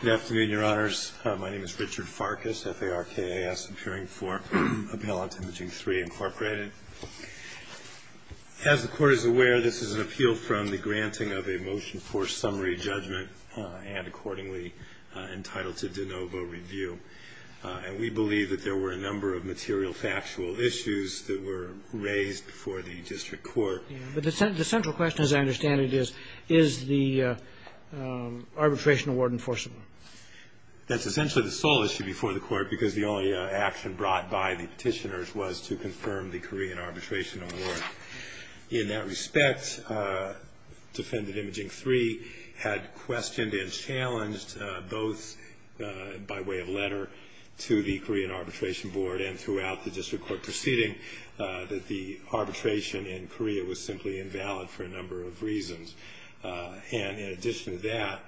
Good afternoon, Your Honors. My name is Richard Farkas, F-A-R-K-A-S, appearing for appellate Imaging3, Inc. As the Court is aware, this is an appeal from the granting of a motion for summary judgment and accordingly entitled to de novo review. And we believe that there were a number of material factual issues that were raised before the district court. But the central question, as I understand it, is, is the arbitration award enforceable? That's essentially the sole issue before the Court because the only action brought by the petitioners was to confirm the Korean arbitration award. In that respect, Defendant Imaging3 had questioned and challenged both by way of letter to the Korean Arbitration Board and throughout the district court proceeding that the arbitration in Korea was simply invalid for a number of reasons. And in addition to that,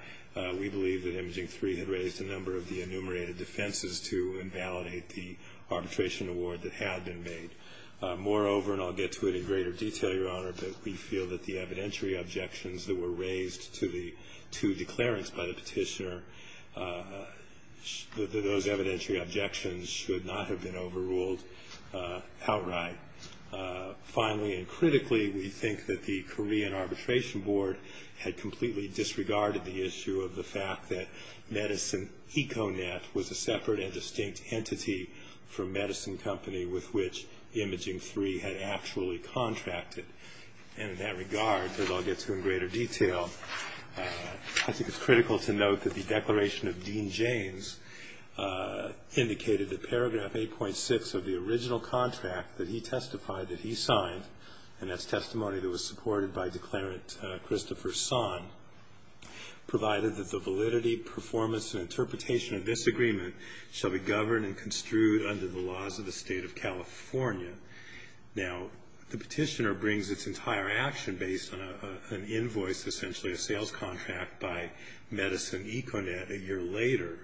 we believe that Imaging3 had raised a number of the enumerated defenses to invalidate the arbitration award that had been made. Moreover, and I'll get to it in greater detail, Your Honor, but we feel that the evidentiary objections that were raised to the two declarants by the petitioner, those evidentiary objections should not have been overruled outright. Finally and critically, we think that the Korean Arbitration Board had completely disregarded the issue of the fact that And in that regard, as I'll get to in greater detail, I think it's critical to note that the declaration of Dean James indicated that paragraph 8.6 of the original contract that he testified that he signed, and that's testimony that was supported by Declarant Christopher Son, provided that the validity, performance, and interpretation of this agreement shall be governed and construed under the laws of the State of California. Now, the petitioner brings its entire action based on an invoice, essentially a sales contract by Medicine Econet a year later,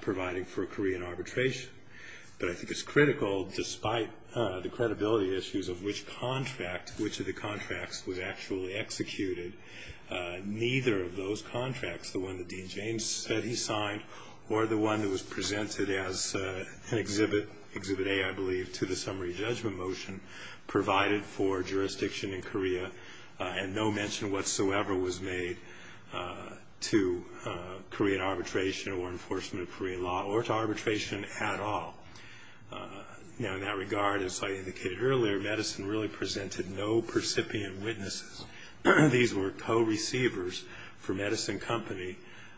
providing for a Korean arbitration. But I think it's critical, despite the credibility issues of which contract, which of the contracts was actually executed, neither of those contracts, the one that Dean James said he signed, or the one that was presented as an exhibit, Exhibit A, I believe, to the summary judgment motion, provided for jurisdiction in Korea and no mention whatsoever was made to Korean arbitration or enforcement of Korean law or to arbitration at all. Now, in that regard, as I indicated earlier, Medicine really presented no percipient witnesses. These were co-receivers for Medicine Company,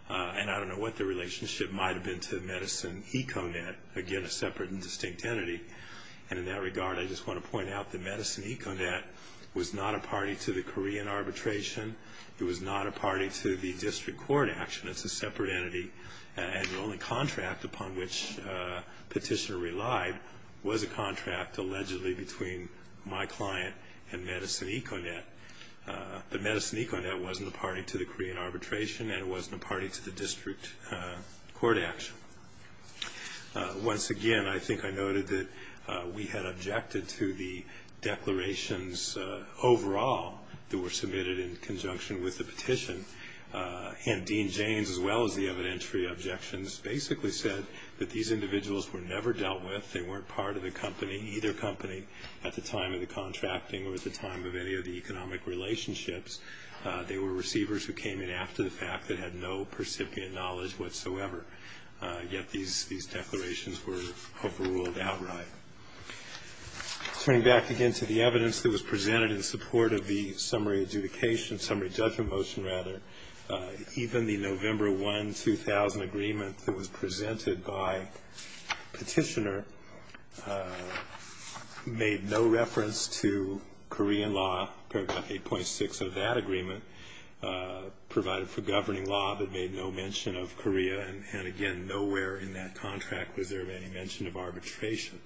and I don't know what their relationship might have been to Medicine Econet, again, a separate and distinct entity. And in that regard, I just want to point out that Medicine Econet was not a party to the Korean arbitration. It was not a party to the district court action. It's a separate entity, and the only contract upon which petitioner relied was a contract allegedly between my client and Medicine Econet. But Medicine Econet wasn't a party to the Korean arbitration, and it wasn't a party to the district court action. Once again, I think I noted that we had objected to the declarations overall that were submitted in conjunction with the petition. And Dean James, as well as the evidentiary objections, basically said that these individuals were never dealt with. They weren't part of the company, either company, at the time of the contracting or at the time of any of the economic relationships. They were receivers who came in after the fact that had no percipient knowledge whatsoever. Yet these declarations were overruled outright. Turning back again to the evidence that was presented in support of the summary adjudication, summary judgment motion, rather, even the November 1, 2000 agreement that was presented by petitioner made no reference to Korean law. Paragraph 8.6 of that agreement provided for governing law but made no mention of Korea. And again, nowhere in that contract was there any mention of arbitration.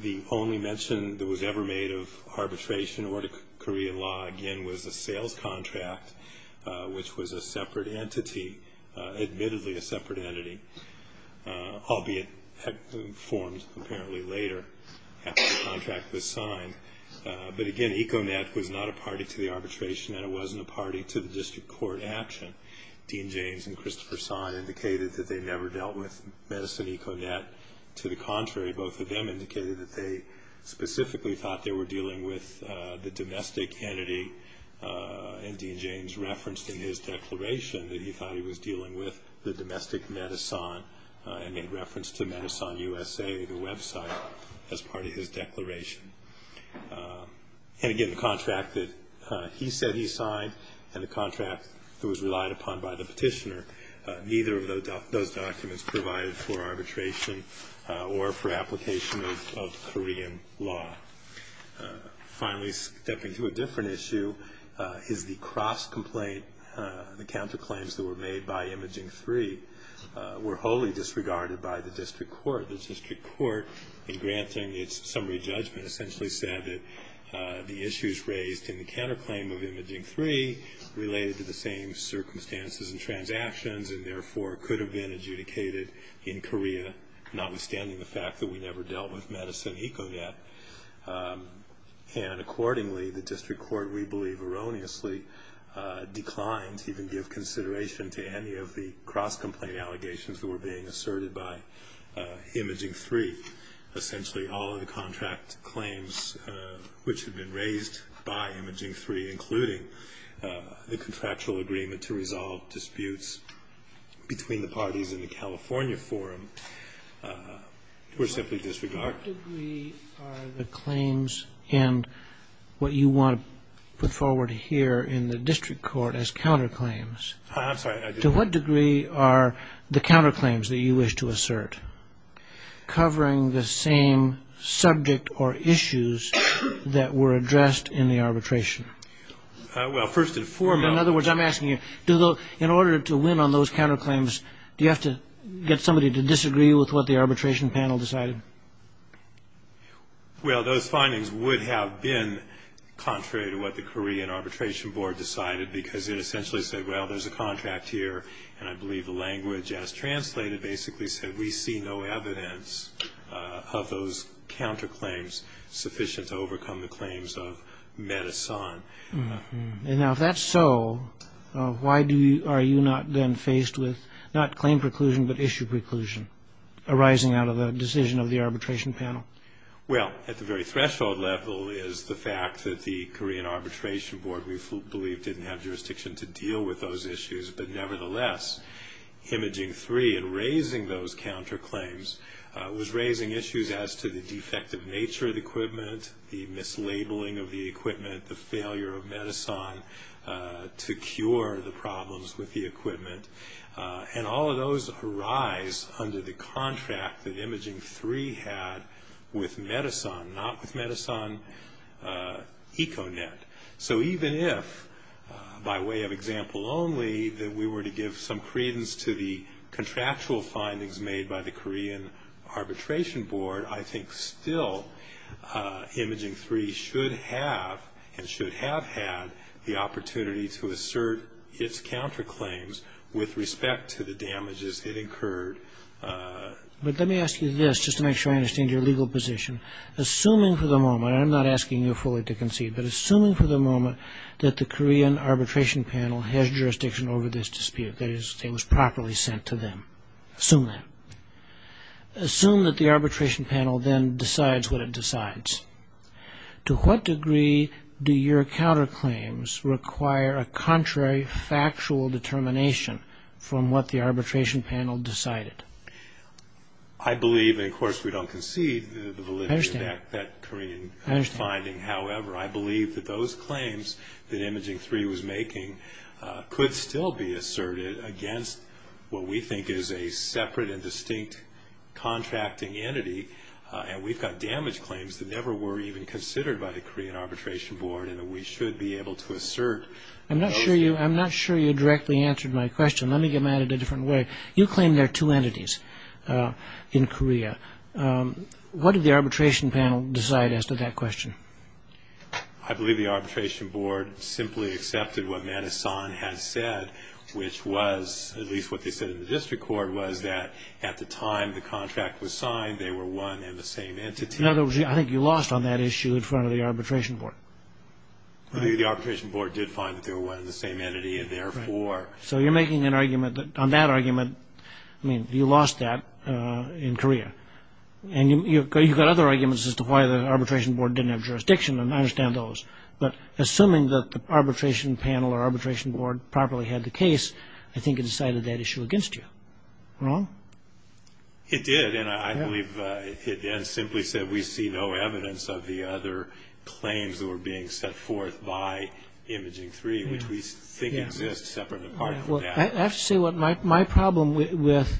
The only mention that was ever made of arbitration or of Korean law, again, was a sales contract, which was a separate entity, admittedly a separate entity, albeit had been formed apparently later after the contract was signed. But again, Econet was not a party to the arbitration, and it wasn't a party to the district court action. Dean James and Christopher Sine indicated that they never dealt with Medicine Econet. To the contrary, both of them indicated that they specifically thought they were dealing with the domestic entity. And Dean James referenced in his declaration that he thought he was dealing with the domestic medicine and made reference to Medicine USA, the website, as part of his declaration. And again, the contract that he said he signed and the contract that was relied upon by the petitioner, neither of those documents provided for arbitration or for application of Korean law. Finally, stepping to a different issue is the cross-complaint, the counterclaims that were made by Imaging 3 were wholly disregarded by the district court. And granting its summary judgment essentially said that the issues raised in the counterclaim of Imaging 3 related to the same circumstances and transactions and therefore could have been adjudicated in Korea, notwithstanding the fact that we never dealt with Medicine Econet. And accordingly, the district court, we believe erroneously, declined to even give consideration to any of the cross-complaint allegations that were being asserted by Imaging 3. Essentially, all of the contract claims which had been raised by Imaging 3, including the contractual agreement to resolve disputes between the parties in the California forum, were simply disregarded. What degree are the claims and what you want to put forward here in the district court as counterclaims? I'm sorry. To what degree are the counterclaims that you wish to assert covering the same subject or issues that were addressed in the arbitration? Well, first and foremost... In other words, I'm asking you, in order to win on those counterclaims, do you have to get somebody to disagree with what the arbitration panel decided? Well, those findings would have been contrary to what the Korean arbitration board decided because it essentially said, well, there's a contract here, and I believe the language as translated basically said, we see no evidence of those counterclaims sufficient to overcome the claims of Medicine. Now, if that's so, why are you not then faced with not claim preclusion but issue preclusion arising out of the decision of the arbitration panel? Well, at the very threshold level is the fact that the Korean arbitration board, we believe, didn't have jurisdiction to deal with those issues. But nevertheless, Imaging 3 in raising those counterclaims was raising issues as to the defective nature of the equipment, the mislabeling of the equipment, the failure of Medicine to cure the problems with the equipment. And all of those arise under the contract that Imaging 3 had with Medicine, not with Medicine Econet. So even if, by way of example only, that we were to give some credence to the contractual findings made by the Korean arbitration board, I think still Imaging 3 should have and should have had the opportunity to assert its counterclaims with respect to the damages it incurred. But let me ask you this just to make sure I understand your legal position. Assuming for the moment, and I'm not asking you fully to concede, but assuming for the moment that the Korean arbitration panel has jurisdiction over this dispute, that it was properly sent to them, assume that. Assume that the arbitration panel then decides what it decides. To what degree do your counterclaims require a contrary factual determination from what the arbitration panel decided? I believe, and of course we don't concede the validity of that Korean finding. However, I believe that those claims that Imaging 3 was making could still be asserted against what we think is a separate and distinct contracting entity. And we've got damage claims that never were even considered by the Korean arbitration board and that we should be able to assert. I'm not sure you directly answered my question. Let me get mad at it a different way. You claim there are two entities in Korea. What did the arbitration panel decide as to that question? I believe the arbitration board simply accepted what Manison had said, which was, at least what they said in the district court, was that at the time the contract was signed, they were one and the same entity. In other words, I think you lost on that issue in front of the arbitration board. The arbitration board did find that they were one and the same entity, and therefore... So you're making an argument that on that argument, I mean, you lost that in Korea. And you've got other arguments as to why the arbitration board didn't have jurisdiction, and I understand those. But assuming that the arbitration panel or arbitration board properly had the case, I think it decided that issue against you. Wrong? It did, and I believe it then simply said we see no evidence of the other claims that were being set forth by Imaging 3, which we think exists separate and apart from that. I have to say my problem with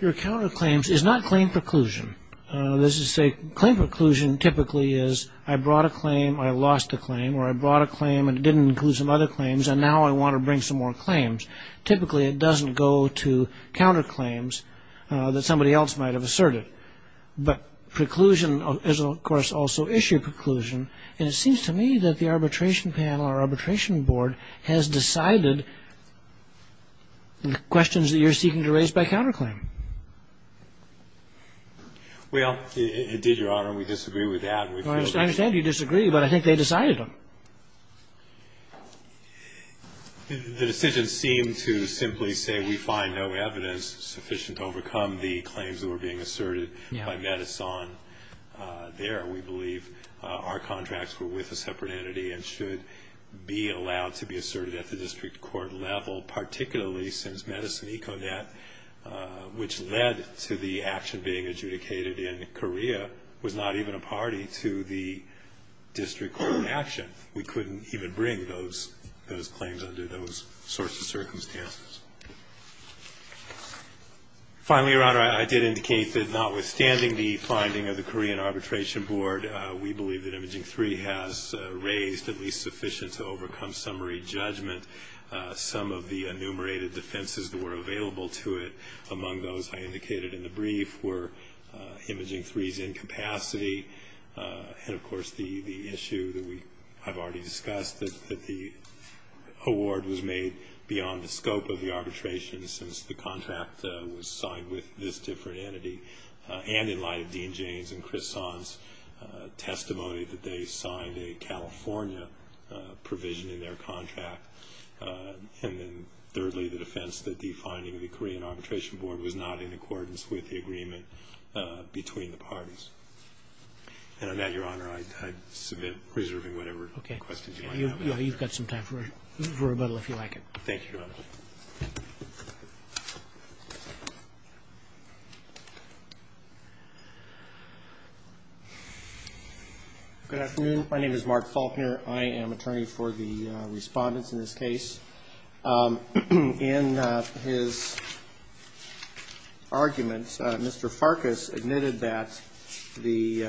your counterclaims is not claim preclusion. Claim preclusion typically is I brought a claim, I lost a claim, or I brought a claim and it didn't include some other claims, and now I want to bring some more claims. Typically it doesn't go to counterclaims that somebody else might have asserted. But preclusion is, of course, also issue preclusion, and it seems to me that the arbitration panel or arbitration board has decided the questions that you're seeking to raise by counterclaim. Well, it did, Your Honor, and we disagree with that. I understand you disagree, but I think they decided them. The decision seemed to simply say we find no evidence sufficient to overcome the claims that were being asserted by Medicine there. We believe our contracts were with a separate entity and should be allowed to be asserted at the district court level, particularly since Medicine Econet, which led to the action being adjudicated in Korea, was not even a party to the district court action. We couldn't even bring those claims under those sorts of circumstances. Finally, Your Honor, I did indicate that notwithstanding the finding of the Korean Arbitration Board, we believe that Imaging 3 has raised at least sufficient to overcome summary judgment. Some of the enumerated defenses that were available to it, among those I indicated in the brief, were Imaging 3's incapacity and, of course, the issue that I've already discussed, that the award was made beyond the scope of the arbitration since the contract was signed with this different entity and in light of Dean Jane's and Chris Son's testimony that they signed a California provision in their contract. And then thirdly, the defense that defining the Korean Arbitration Board was not in accordance with the agreement between the parties. And on that, Your Honor, I submit, reserving whatever questions you might have. You've got some time for rebuttal if you like it. Thank you, Your Honor. Good afternoon. My name is Mark Faulkner. I am attorney for the respondents in this case. In his argument, Mr. Farkas admitted that the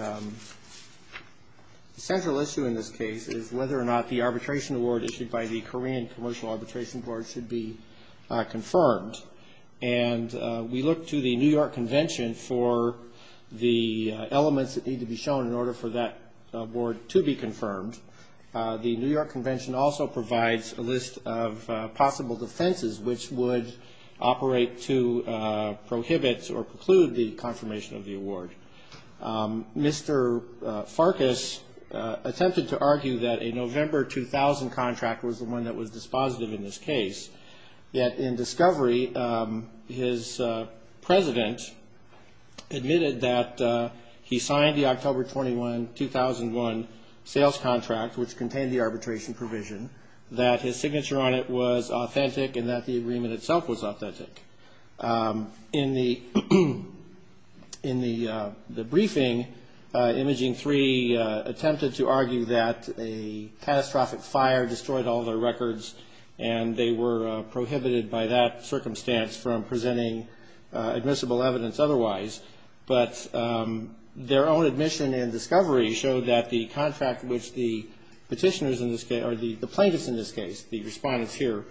central issue in this case is whether or not the arbitration award issued by the Korean Commercial Arbitration Board should be confirmed. And we looked to the New York Convention for the elements that need to be shown in order for that award to be confirmed. The New York Convention also provides a list of possible defenses which would operate to prohibit or preclude the confirmation of the award. Mr. Farkas attempted to argue that a November 2000 contract was the one that was dispositive in this case. Yet in discovery, his president admitted that he signed the October 2001 sales contract, which contained the arbitration provision, that his signature on it was authentic In the briefing, Imaging 3 attempted to argue that a catastrophic fire destroyed all their records and they were prohibited by that circumstance from presenting admissible evidence otherwise. But their own admission in discovery showed that the contract which the petitioners in this case or the plaintiffs in this case, the respondents here,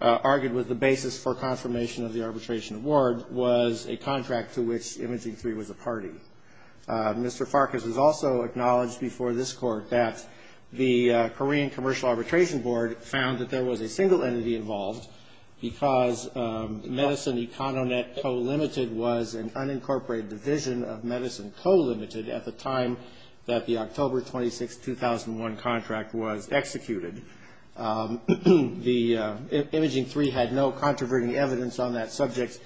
argued was the basis for confirmation of the arbitration award was a contract to which Imaging 3 was a party. Mr. Farkas has also acknowledged before this Court that the Korean Commercial Arbitration Board found that there was a single entity involved because Medicine Econonet Co. Limited was an unincorporated division of Medicine Co. Limited at the time that the October 26, 2001 contract was executed. Imaging 3 had no controverting evidence on that subject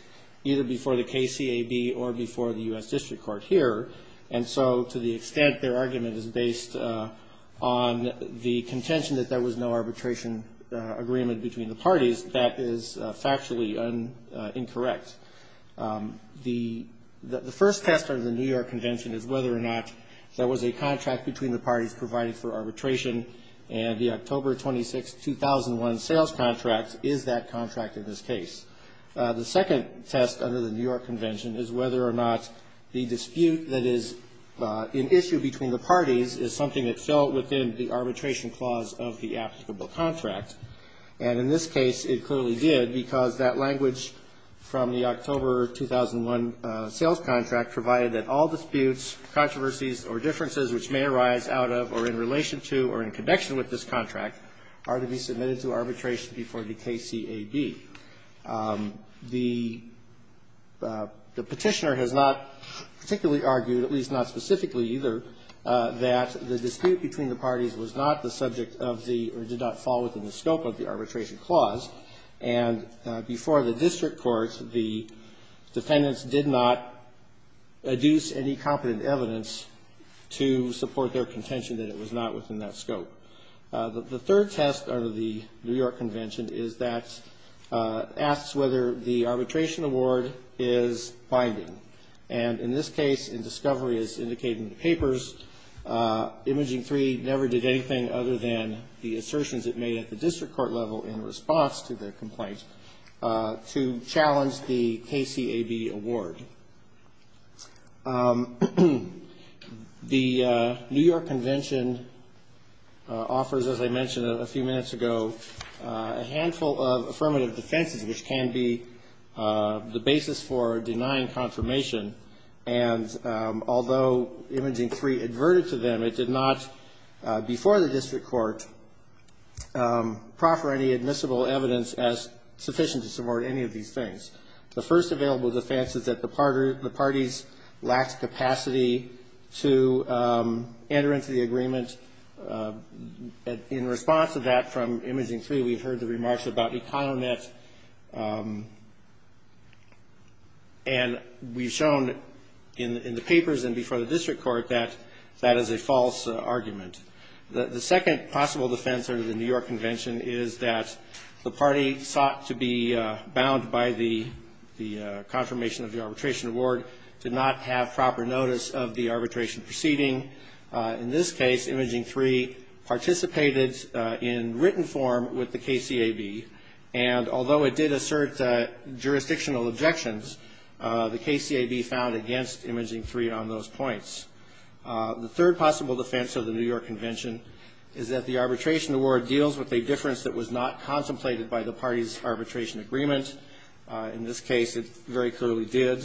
either before the KCAB or before the U.S. District Court here. And so to the extent their argument is based on the contention that there was no arbitration agreement between the parties, that is factually incorrect. The first test under the New York Convention is whether or not there was a contract between the parties providing for arbitration, and the October 26, 2001 sales contract is that contract in this case. The second test under the New York Convention is whether or not the dispute that is an issue between the parties is something that fell within the arbitration clause of the applicable contract. And in this case, it clearly did because that language from the October 2001 sales contract provided that all disputes, controversies, or differences which may arise out of or in relation to or in connection with this contract are to be submitted to arbitration before the KCAB. The petitioner has not particularly argued, at least not specifically either, that the dispute between the parties was not the subject of the or did not fall within the scope of the arbitration clause. And before the District Court, the defendants did not adduce any competent evidence to support their contention that it was not within that scope. The third test under the New York Convention is that asks whether the arbitration award is binding. And in this case, in discovery as indicated in the papers, Imaging 3 never did anything other than the assertions it made at the District Court level in response to the complaint to challenge the KCAB award. The New York Convention offers, as I mentioned a few minutes ago, a handful of affirmative defenses which can be the basis for denying confirmation. And although Imaging 3 adverted to them, it did not before the District Court proffer any admissible evidence as sufficient to support any of these things. The first available defense is that the parties lacked capacity to enter into the agreement. And in response to that from Imaging 3, we've heard the remarks about economet. And we've shown in the papers and before the District Court that that is a false argument. The second possible defense under the New York Convention is that the party sought to be bound by the confirmation of the arbitration award did not have proper notice of the arbitration proceeding. In this case, Imaging 3 participated in written form with the KCAB. And although it did assert jurisdictional objections, the KCAB found against Imaging 3 on those points. The third possible defense of the New York Convention is that the arbitration award deals with a difference that was not contemplated by the party's arbitration agreement. In this case, it very clearly did.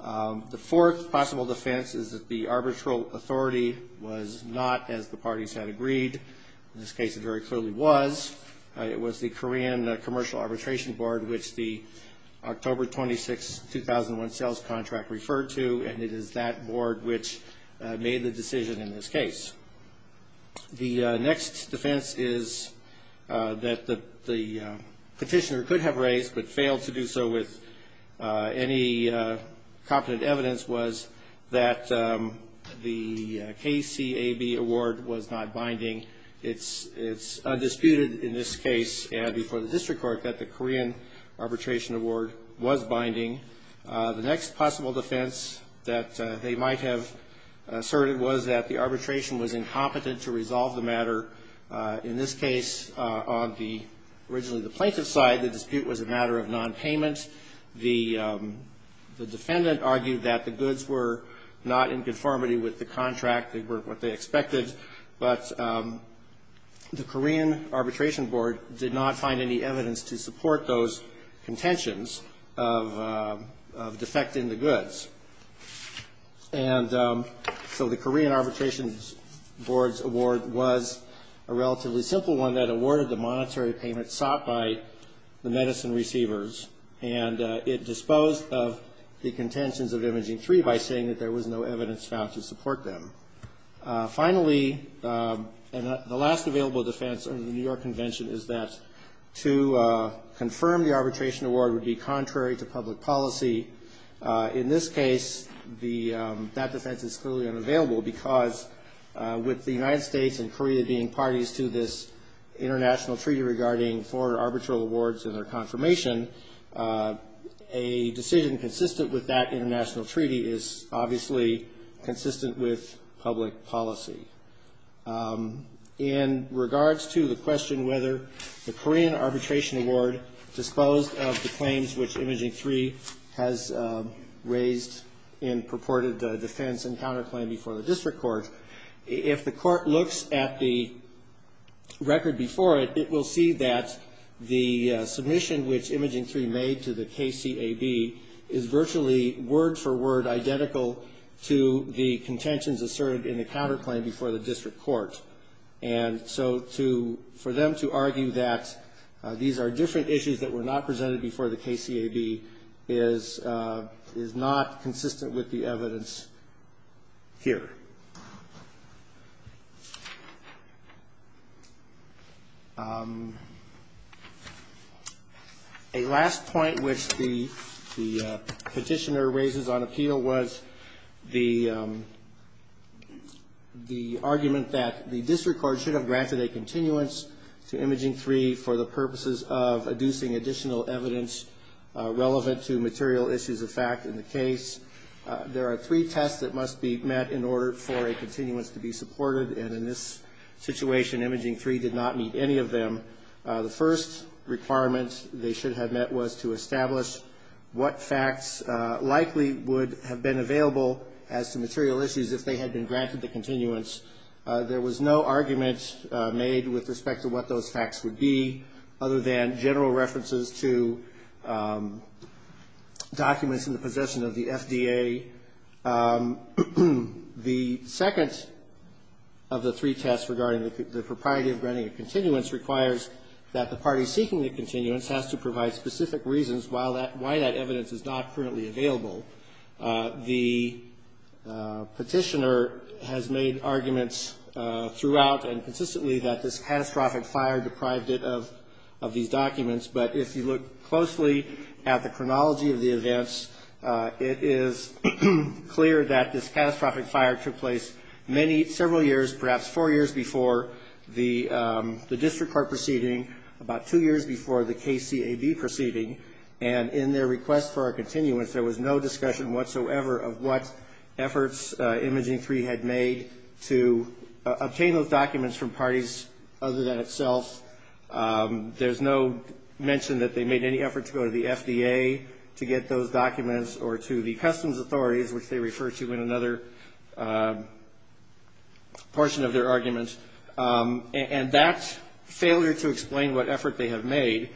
The fourth possible defense is that the arbitral authority was not as the parties had agreed. In this case, it very clearly was. It was the Korean Commercial Arbitration Board, which the October 26, 2001 sales contract referred to. And it is that board which made the decision in this case. The next defense is that the petitioner could have raised but failed to do so with any competent evidence, was that the KCAB award was not binding. It's undisputed in this case and before the District Court that the Korean arbitration award was binding. The next possible defense that they might have asserted was that the arbitration was incompetent to resolve the matter. In this case, on the originally the plaintiff's side, the dispute was a matter of nonpayment. The defendant argued that the goods were not in conformity with the contract. They weren't what they expected. But the Korean Arbitration Board did not find any evidence to support those contentions of defecting the goods. And so the Korean Arbitration Board's award was a relatively simple one that awarded the monetary payment sought by the medicine receivers. And it disposed of the contentions of Imaging 3 by saying that there was no evidence found to support them. Finally, and the last available defense under the New York Convention is that to confirm the arbitration award would be contrary to public policy. In this case, that defense is clearly unavailable because with the United States and Korea being parties to this international treaty regarding for arbitral awards and their confirmation, a decision consistent with that international treaty is obviously consistent with the public policy. In regards to the question whether the Korean Arbitration Award disposed of the claims which Imaging 3 has raised in purported defense and counterclaim before the district court, if the court looks at the record before it, it will see that the submission which Imaging 3 made to the KCAB is virtually word-for-word identical to the contentions asserted by Imaging 3. And so for them to argue that these are different issues that were not presented before the KCAB is not consistent with the evidence here. A last point which the petitioner raises on appeal was the issue of whether the Korean Arbitration Award disposed of the claims which Imaging 3 had raised. The argument that the district court should have granted a continuance to Imaging 3 for the purposes of adducing additional evidence relevant to material issues of fact in the case. There are three tests that must be met in order for a continuance to be supported, and in this situation, Imaging 3 did not meet any of them. The first requirement they should have met was to establish what facts likely would have been available as to material issues if they had been granted the continuance. There was no argument made with respect to what those facts would be other than general references to documents in the possession of the FDA. The second of the three tests regarding the propriety of granting a continuance requires that the party seeking the continuance has to provide specific reasons why that evidence is not currently available. The petitioner has made arguments throughout and consistently that this catastrophic fire deprived it of these documents, but if you look closely at the chronology of the events, it is clear that this catastrophic fire took place many, several years, perhaps four years before the district court proceeding, about two years before the KCAB proceeding, and in their request for a continuance, there was no discussion whatsoever of what efforts Imaging 3 had made to obtain those documents from parties other than itself. There's no mention that they made any effort to go to the FDA to get those documents or to the customs authorities, which they refer to in another portion of their argument, and that failure to explain what effort they have made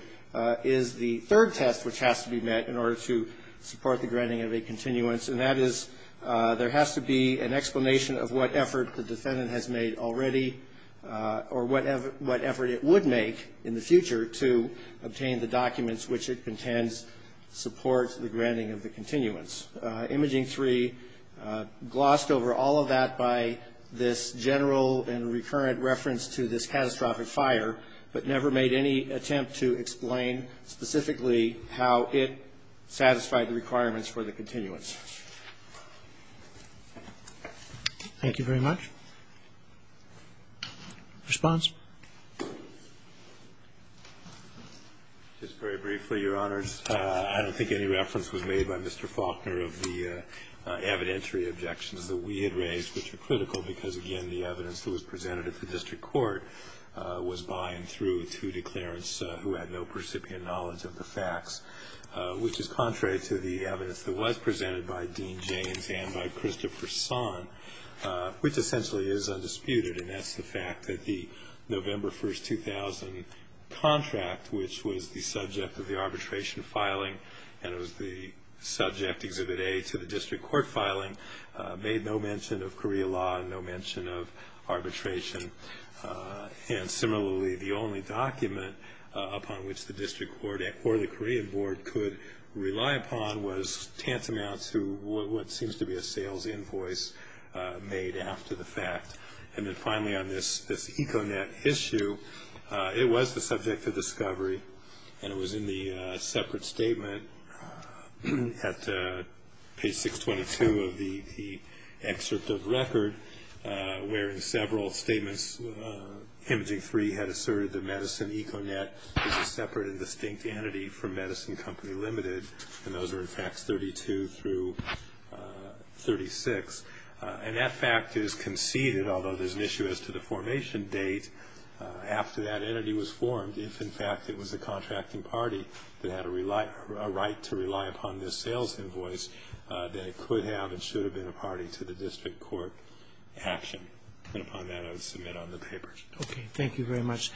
is the third test which has to be met in order to support the granting of a continuance, and that is there has to be an explanation of what effort the defendant has made already or what effort it would make in the future to obtain the documents which it contends support the granting of the continuance. Imaging 3 glossed over all of that by this general and recurrent reference to this catastrophic fire, but never made any attempt to obtain the documents which it contends support the granting of the continuance. Thank you very much. Response? Just very briefly, Your Honors. I don't think any reference was made by Mr. Faulkner of the evidentiary objections that we had raised, which are critical, because again, the evidence that was presented at the district court was by and through to declarants who had no percipient knowledge of the facts, which is contrary to the evidence that was presented at the district court. And the evidence that was presented by Dean Jaynes and by Christopher Son, which essentially is undisputed, and that's the fact that the November 1, 2000 contract, which was the subject of the arbitration filing, and it was the subject, Exhibit A, to the district court filing, made no mention of Korea law and no mention of arbitration. And similarly, the only document upon which the district court or the Korean board could rely upon was tantamount to the fact that the court had no prior knowledge of the facts. And that's tantamount to what seems to be a sales invoice made after the fact. And then finally, on this Econet issue, it was the subject of discovery, and it was in the separate statement at page 622 of the excerpt of record, where in several statements, Imaging 3 had asserted that Medicine Econet is a separate and distinct entity from Medicine Company Limited, and those were, in fact, 32 through 35. And that fact is conceded, although there's an issue as to the formation date after that entity was formed, if, in fact, it was a contracting party that had a right to rely upon this sales invoice, that it could have and should have been a party to the district court action. And upon that, I would submit on the paper. Thank you very much.